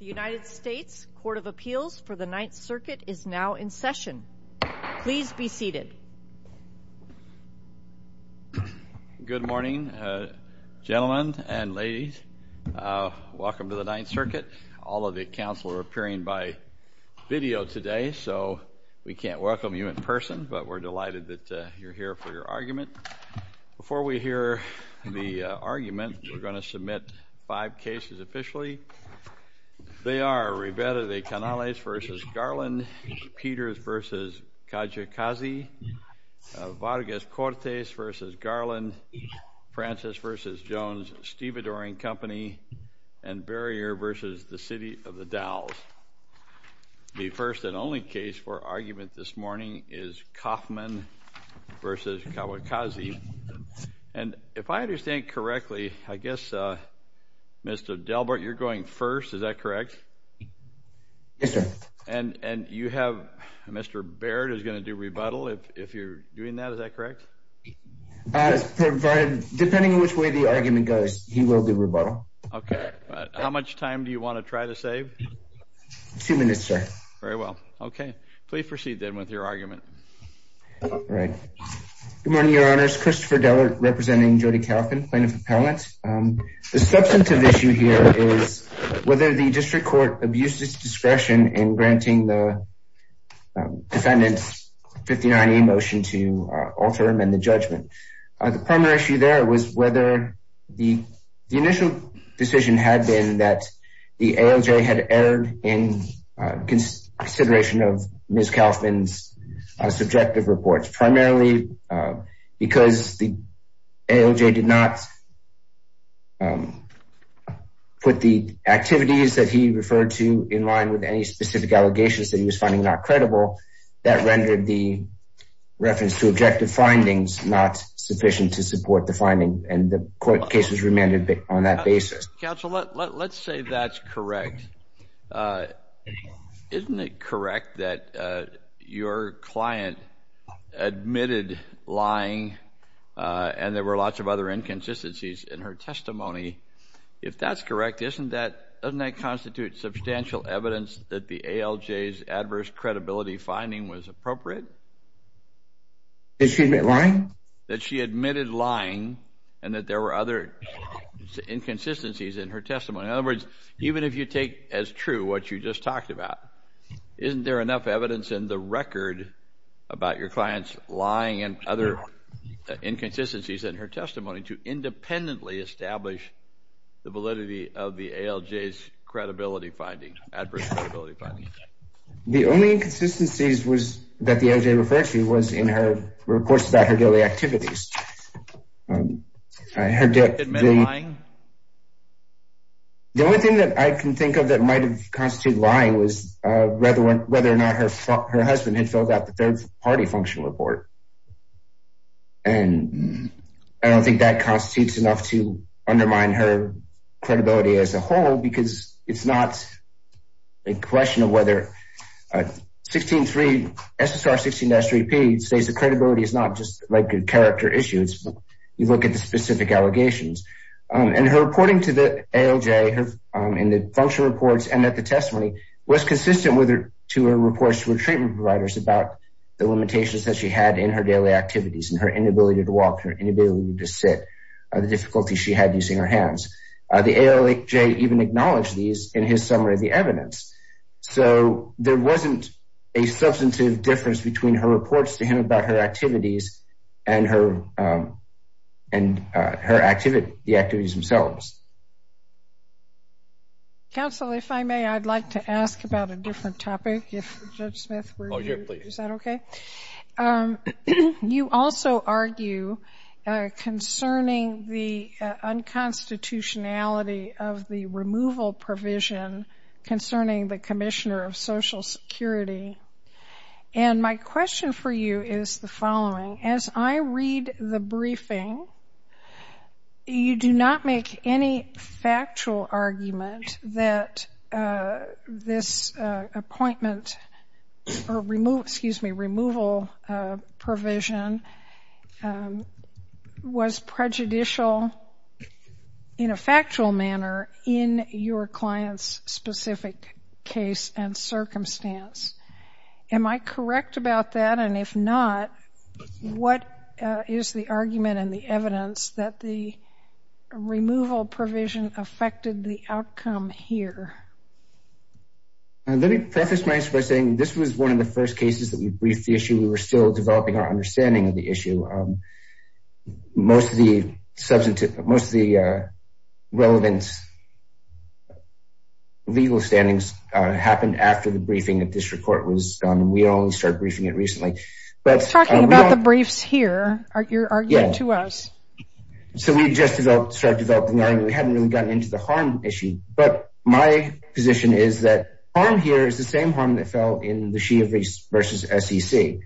The United States Court of Appeals for the Ninth Circuit is now in session. Please be seated. Good morning, gentlemen and ladies. Welcome to the Ninth Circuit. All of the counsel are appearing by video today, so we can't welcome you in person, but we're delighted that you're here for your argument. Before we hear the argument, we're going to submit five cases officially. They are Rivera de Canales v. Garland, Peters v. Kijakazi, Vargas Cortes v. Garland, Francis v. Jones, Stevedore & Company, and Barrier v. The City of the Dalles. The first and only case for argument this morning is Kaufmann v. Kijakazi. And if I understand correctly, I guess, Mr. Delbert, you're going first, is that correct? Yes, sir. And you have Mr. Baird who's going to do rebuttal, if you're doing that, is that correct? Yes, provided, depending on which way the argument goes, he will do rebuttal. Okay. How much time do you want to try to save? Two minutes, sir. Very well. Okay. Please proceed then with your argument. All right. Good morning, Your Honors. Christopher Delbert representing Jody Kauffman, Plaintiff Appellant. The substantive issue here is whether the District Court abused its discretion in granting the defendant's 59A motion to alter and amend the judgment. The primary issue there was whether the initial decision had been that the ALJ had erred in consideration of Ms. Kaufmann's subjective reports, primarily because the ALJ did not put the activities that he referred to in line with any specific allegations that he was finding not credible. That rendered the reference to objective findings not sufficient to support the finding, and the court case was remanded on that basis. Counsel, let's say that's correct. Isn't it correct that your client admitted lying and there were lots of other inconsistencies in her testimony? If that's correct, doesn't that constitute substantial evidence that the ALJ's adverse credibility finding was appropriate? Did she admit lying? That she admitted lying and that there were other inconsistencies in her testimony. In other words, even if you take as true what you just talked about, isn't there enough evidence in the record about your client's lying and other inconsistencies in her testimony to independently establish the validity of the ALJ's adverse credibility finding? The only inconsistencies that the ALJ referred to was in her reports about her daily activities. Did she admit lying? The only thing that I can think of that might have constituted lying was whether or not her husband had filled out the third-party functional report. I don't think that constitutes enough to undermine her credibility as a whole, because it's not a question of whether. SSR 16-3P says that credibility is not just a character issue. You look at the specific allegations. Her reporting to the ALJ in the functional reports and at the testimony was consistent to her reports to her treatment providers about the limitations that she had in her daily activities and her inability to walk, her inability to sit, the difficulty she had using her hands. The ALJ even acknowledged these in his summary of the evidence. So there wasn't a substantive difference between her reports to him about her activities and her activities themselves. Counsel, if I may, I'd like to ask about a different topic. If Judge Smith would hear me, is that okay? Oh, sure, please. You also argue concerning the unconstitutionality of the removal provision concerning the Commissioner of Social Security. And my question for you is the following. As I read the briefing, you do not make any factual argument that this appointment or removal provision was prejudicial in a factual manner in your client's specific case and circumstance. Am I correct about that? And if not, what is the argument and the evidence that the removal provision affected the outcome here? Let me preface my answer by saying this was one of the first cases that we briefed the issue. We were still developing our understanding of the issue. Most of the relevant legal standings happened after the briefing at district court was done. We only started briefing it recently. You're talking about the briefs here. You're arguing to us. So we had just started developing the argument. We hadn't really gotten into the harm issue. But my position is that harm here is the same harm that fell in the Shea versus SEC.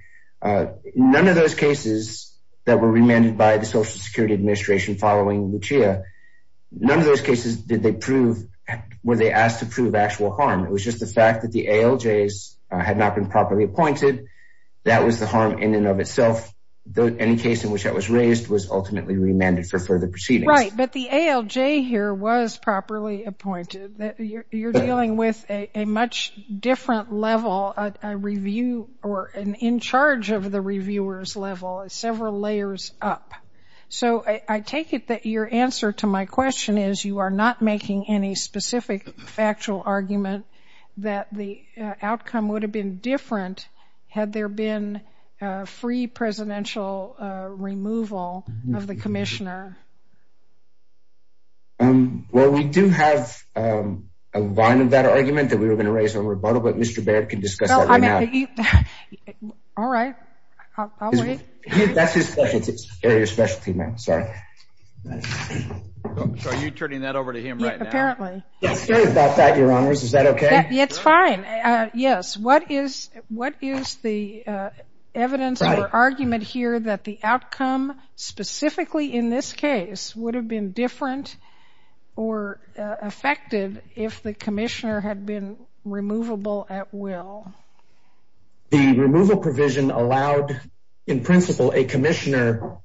None of those cases that were remanded by the Social Security Administration following the Shea, none of those cases were they asked to prove actual harm. It was just the fact that the ALJs had not been properly appointed. That was the harm in and of itself. Any case in which that was raised was ultimately remanded for further proceedings. Right. But the ALJ here was properly appointed. You're dealing with a much different level, a review or an in charge of the reviewer's level, several layers up. So I take it that your answer to my question is you are not making any specific factual argument that the outcome would have been different had there been free presidential removal of the commissioner. Well, we do have a line of that argument that we were going to raise on rebuttal, but Mr. Barrett can discuss that right now. All right. I'll wait. That's his specialty, your specialty, ma'am. Sorry. So are you turning that over to him right now? Apparently. Sorry about that, Your Honors. Is that okay? It's fine. Yes. What is the evidence or argument here that the outcome specifically in this case would have been different or affected if the commissioner had been removable at will? The removal provision allowed, in principle, a commissioner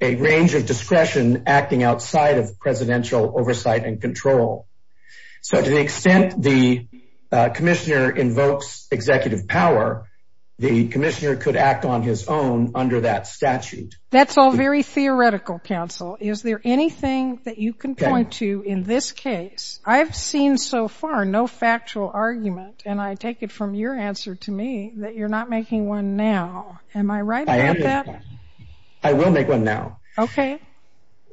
a range of discretion acting outside of presidential oversight and control. So to the extent the commissioner invokes executive power, the commissioner could act on his own under that statute. That's all very theoretical, counsel. Is there anything that you can point to in this case? I've seen so far no factual argument, and I take it from your answer to me that you're not making one now. Am I right about that? I will make one now. Okay.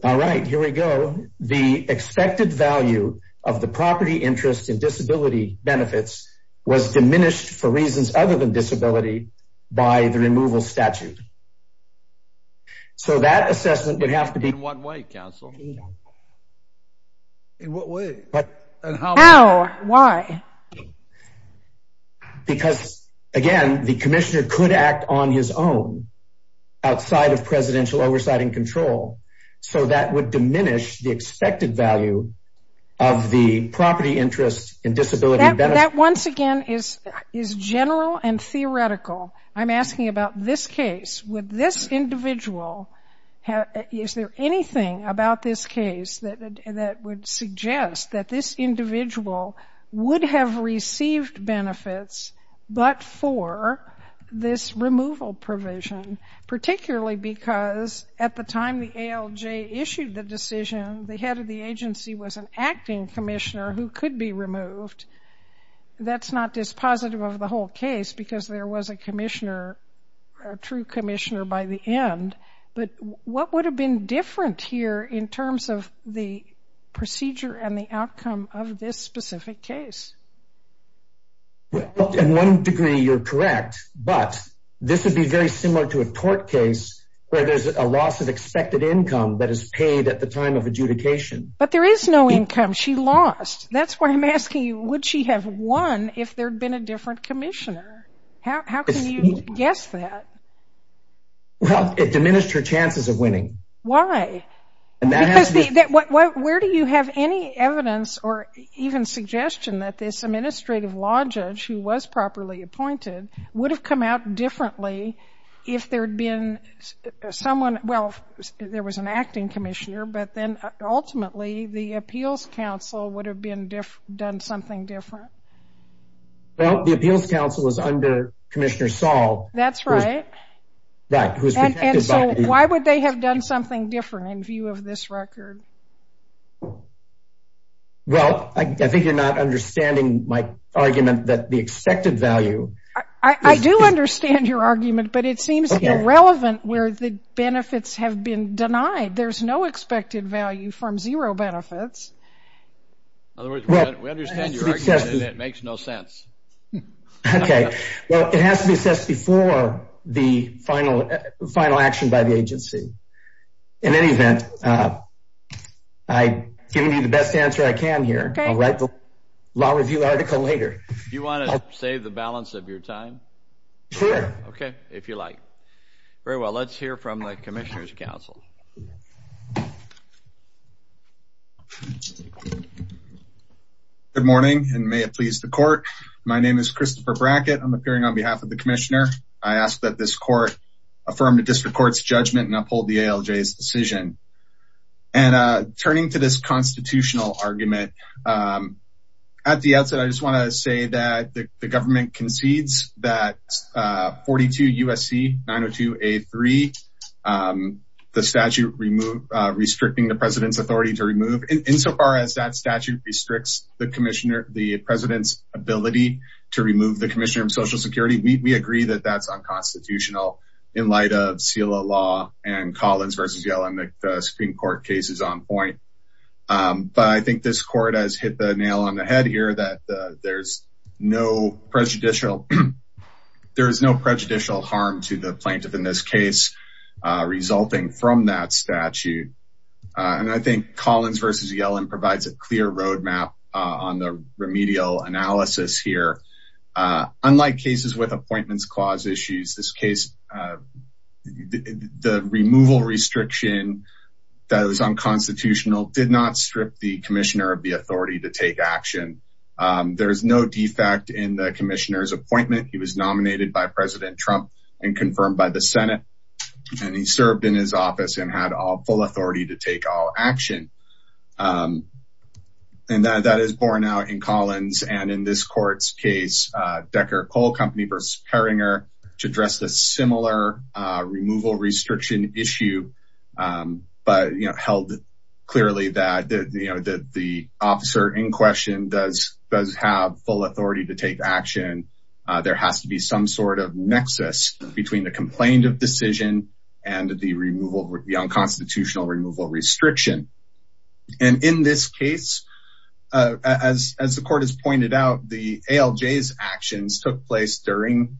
All right. Here we go. The expected value of the property interest in disability benefits was diminished for reasons other than disability by the removal statute. So that assessment would have to be- In what way, counsel? In what way? How? Why? Because, again, the commissioner could act on his own outside of presidential oversight and control. So that would diminish the expected value of the property interest in disability benefits. That, once again, is general and theoretical. I'm asking about this case. Would this individual, is there anything about this case that would suggest that this individual would have received benefits but for this removal provision, particularly because at the time the ALJ issued the decision, the head of the agency was an acting commissioner who could be removed? That's not dispositive of the whole case because there was a commissioner, a true commissioner by the end. But what would have been different here in terms of the procedure and the outcome of this specific case? In one degree, you're correct, but this would be very similar to a court case where there's a loss of expected income that is paid at the time of adjudication. But there is no income. She lost. That's why I'm asking you, would she have won if there had been a different commissioner? How can you guess that? Well, it diminished her chances of winning. Why? Because where do you have any evidence or even suggestion that this administrative law judge who was properly appointed would have come out differently if there had been someone, well, there was an acting commissioner, but then ultimately the appeals council would have done something different? Well, the appeals council is under Commissioner Saul. That's right. And so why would they have done something different in view of this record? Well, I think you're not understanding my argument that the expected value. I do understand your argument, but it seems irrelevant where the benefits have been denied. There's no expected value from zero benefits. In other words, we understand your argument and it makes no sense. Okay. Well, it has to be assessed before the final action by the agency. In any event, I'm giving you the best answer I can here. I'll write the law review article later. Do you want to save the balance of your time? Sure. Okay. Very well, let's hear from the Commissioner's Council. Good morning, and may it please the court. My name is Christopher Brackett. I'm appearing on behalf of the commissioner. I ask that this court affirm the district court's judgment and uphold the ALJ's decision. And turning to this constitutional argument, at the outset, I just want to say that the government concedes that 42 USC 902A3, the statute restricting the president's authority to remove, insofar as that statute restricts the president's ability to remove the commissioner of social security, we agree that that's unconstitutional in light of SELA law and Collins v. Yellen that the Supreme Court case is on point. But I think this court has hit the nail on the head here that there's no prejudicial harm to the plaintiff in this case resulting from that statute. And I think Collins v. Yellen provides a clear roadmap on the remedial analysis here. Unlike cases with appointments clause issues, this case, the removal restriction that was unconstitutional did not strip the commissioner of the authority to take action. There is no defect in the commissioner's appointment. He was nominated by President Trump and confirmed by the Senate, and he served in his office and had full authority to take all action. And that is borne out in Collins and in this court's case, Decker Coal Company v. Herringer addressed a similar removal restriction issue, but held clearly that the officer in question does have full authority to take action. There has to be some sort of nexus between the complaint of decision and the unconstitutional removal restriction. And in this case, as the court has pointed out, the ALJ's actions took place during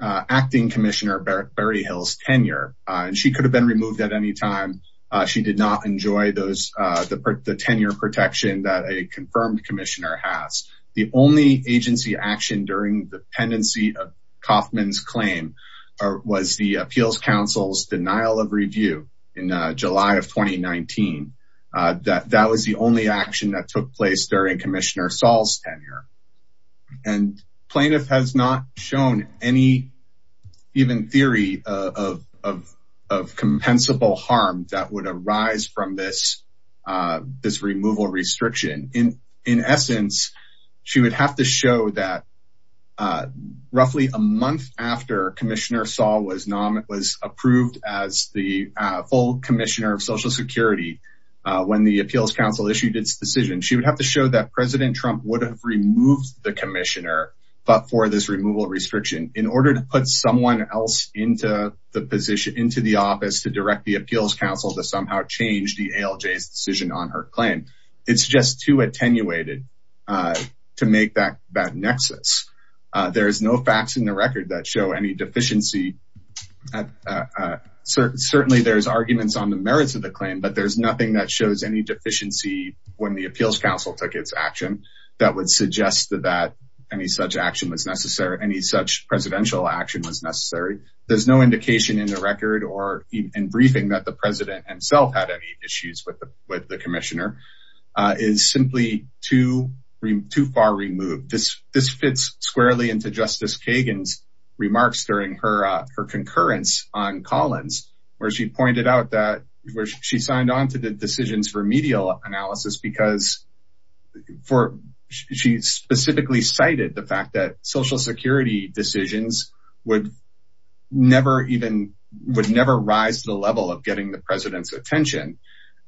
acting Commissioner Berryhill's tenure, and she could have been removed at any time. She did not enjoy the tenure protection that a confirmed commissioner has. The only agency action during the pendency of Kaufman's claim was the Appeals Council's denial of review in July of 2019. That was the only action that took place during Commissioner Saul's tenure. And plaintiff has not shown any even theory of compensable harm that would arise from this removal restriction. In essence, she would have to show that roughly a month after Commissioner Saul was approved as the full commissioner of Social Security, when the Appeals Council issued its decision, she would have to show that President Trump would have removed the commissioner, but for this removal restriction in order to put someone else into the office to direct the Appeals Council to somehow change the ALJ's decision on her claim. It's just too attenuated to make that that nexus. There is no facts in the record that show any deficiency. Certainly, there's arguments on the merits of the claim, but there's nothing that shows any deficiency when the Appeals Council took its action that would suggest that any such action was necessary, any such presidential action was necessary. There's no indication in the record or in briefing that the president himself had any issues with the commissioner is simply too far removed. This fits squarely into Justice Kagan's remarks during her concurrence on Collins, where she pointed out that she signed on to the decisions for medial analysis because she specifically cited the fact that Social Security decisions would never rise to the level of getting the president's attention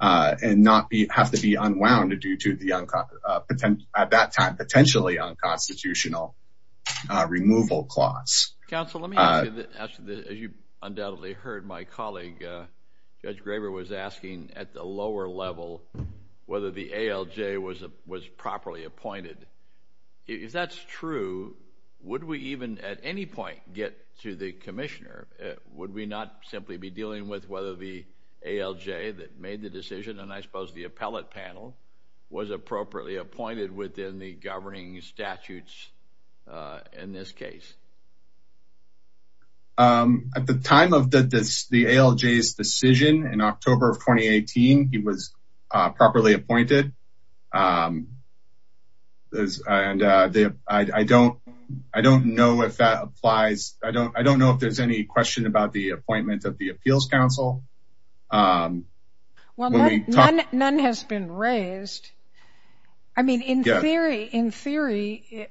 and not have to be unwound due to the, at that time, potentially unconstitutional removal clause. Counsel, let me ask you this. As you undoubtedly heard, my colleague, Judge Graber, was asking at the lower level whether the ALJ was properly appointed. If that's true, would we even at any point get to the commissioner? Would we not simply be dealing with whether the ALJ that made the decision, and I suppose the appellate panel, was appropriately appointed within the governing statutes in this case? At the time of the ALJ's decision in October of 2018, he was properly appointed. I don't know if that applies. I don't know if there's any question about the appointment of the appeals counsel. Well, none has been raised. I mean, in theory,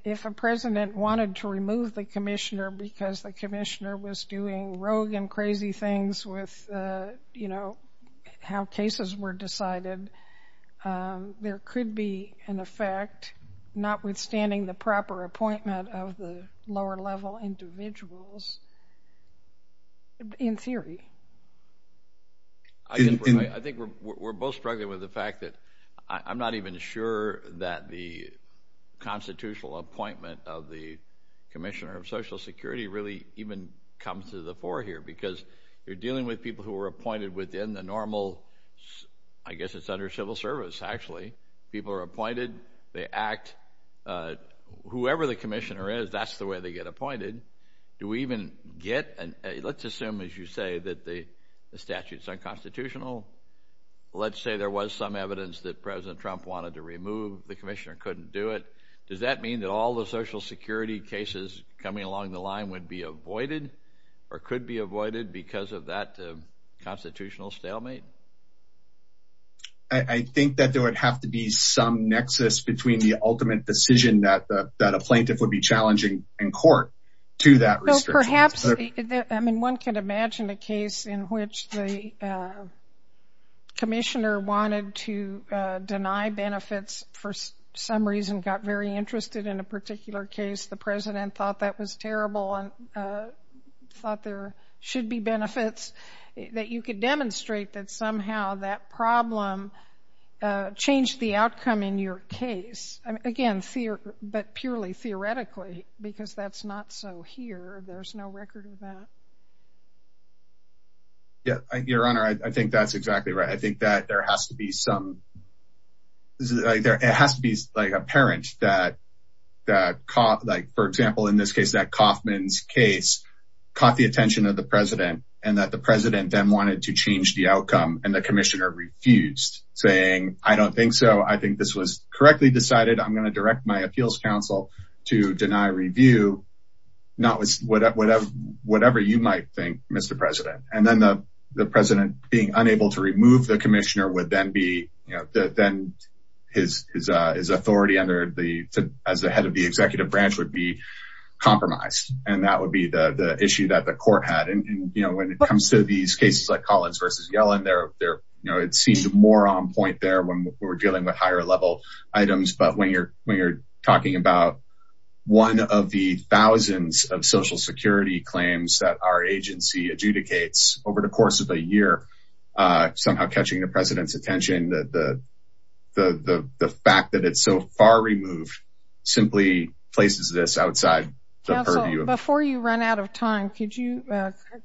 if a president wanted to remove the commissioner because the commissioner was doing rogue and crazy things with how cases were decided, there could be an effect, notwithstanding the proper appointment of the lower-level individuals, in theory. I think we're both struggling with the fact that I'm not even sure that the constitutional appointment of the commissioner of Social Security really even comes to the fore here, because you're dealing with people who were appointed within the normal, I guess it's under civil service, actually. People are appointed. They act. Whoever the commissioner is, that's the way they get appointed. Let's assume, as you say, that the statute is unconstitutional. Let's say there was some evidence that President Trump wanted to remove. The commissioner couldn't do it. Does that mean that all the Social Security cases coming along the line would be avoided or could be avoided because of that constitutional stalemate? I think that there would have to be some nexus between the ultimate decision that a plaintiff would be challenging in court to that restriction. Perhaps. I mean, one can imagine a case in which the commissioner wanted to deny benefits for some reason, got very interested in a particular case. The president thought that was terrible and thought there should be benefits, that you could demonstrate that somehow that problem changed the outcome in your case. Again, but purely theoretically, because that's not so here. There's no record of that. Your Honor, I think that's exactly right. It has to be apparent that, for example, in this case, that Kaufman's case caught the attention of the president and that the president then wanted to change the outcome. And the commissioner refused, saying, I don't think so. I think this was correctly decided. I'm going to direct my appeals counsel to deny review, whatever you might think, Mr. President. And then the president being unable to remove the commissioner would then be then his authority under the as the head of the executive branch would be compromised. And that would be the issue that the court had. And, you know, when it comes to these cases like Collins versus Yellen there, you know, it seemed more on point there when we're dealing with higher level items. But when you're when you're talking about one of the thousands of Social Security claims that our agency adjudicates over the course of a year, somehow catching the president's attention, the fact that it's so far removed simply places this outside the purview. Before you run out of time, could you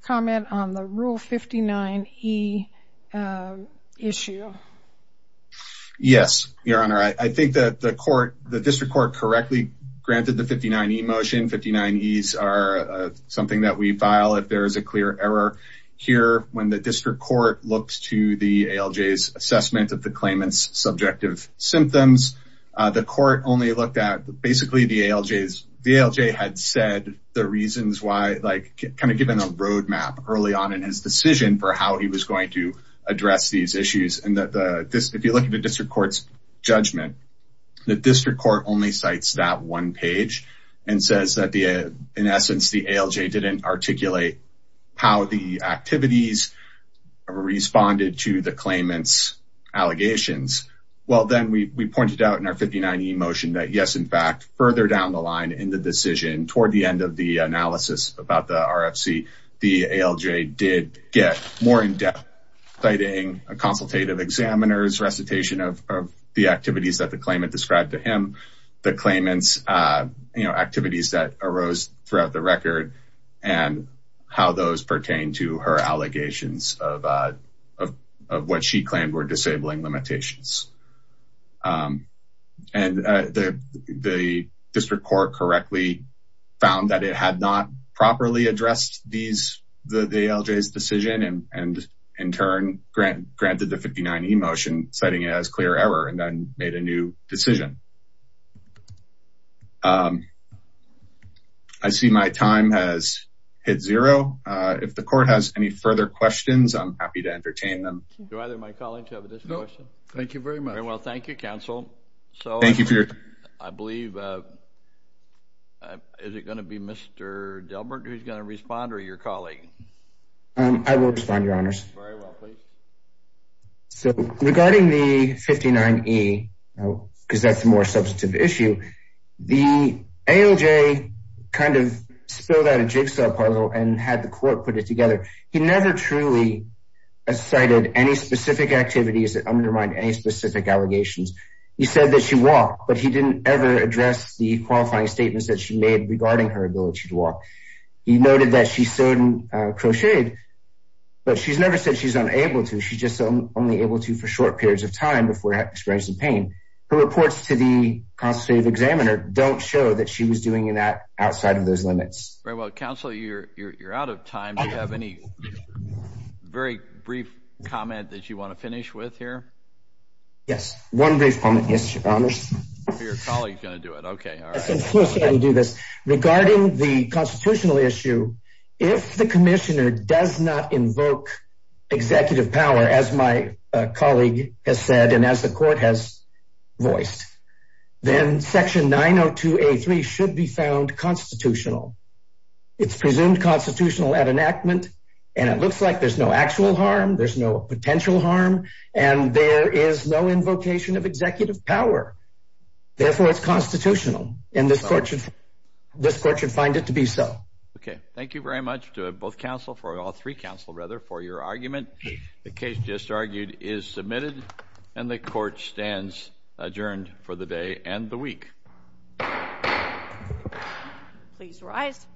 comment on the Rule 59E issue? Yes, Your Honor. I think that the court, the district court correctly granted the 59E motion. 59Es are something that we file if there is a clear error here. When the district court looks to the ALJ's assessment of the claimant's subjective symptoms, the court only looked at basically the ALJ's. The ALJ had said the reasons why, like kind of given a roadmap early on in his decision for how he was going to address these issues. And that if you look at the district court's judgment, the district court only cites that one page and says that in essence, the ALJ didn't articulate how the activities responded to the claimant's allegations. Well, then we pointed out in our 59E motion that, yes, in fact, further down the line in the decision toward the end of the analysis about the RFC, the ALJ did get more in-depth citing a consultative examiner's recitation of the activities that the claimant described to him. The claimant's activities that arose throughout the record and how those pertain to her allegations of what she claimed were disabling limitations. And the district court correctly found that it had not properly addressed the ALJ's decision and in turn granted the 59E motion citing it as clear error and then made a new decision. I see my time has hit zero. If the court has any further questions, I'm happy to entertain them. Do either of my colleagues have a discussion? No. Thank you very much. Very well. Thank you, counsel. Thank you, Peter. So I believe, is it going to be Mr. Delbert who's going to respond or your colleague? I will respond, your honors. Very well. Please. So regarding the 59E, because that's a more substantive issue, the ALJ kind of spilled out a jigsaw puzzle and had the court put it together. He never truly cited any specific activities that undermined any specific allegations. He said that she walked, but he didn't ever address the qualifying statements that she made regarding her ability to walk. He noted that she sewed and crocheted, but she's never said she's unable to. She's just only able to for short periods of time before experiencing pain. Her reports to the constitutive examiner don't show that she was doing that outside of those limits. All right. Well, counsel, you're out of time. Do you have any very brief comment that you want to finish with here? Yes. One brief comment. Yes, your honors. Your colleague is going to do it. Okay. All right. Regarding the constitutional issue, if the commissioner does not invoke executive power, as my colleague has said, and as the court has voiced, then section 902A3 should be found constitutional. It's presumed constitutional at enactment, and it looks like there's no actual harm. There's no potential harm, and there is no invocation of executive power. Therefore, it's constitutional, and this court should find it to be so. Okay. Thank you very much to both counsel, for all three counsel, rather, for your argument. The case just argued is submitted, and the court stands adjourned for the day and the week. Please rise.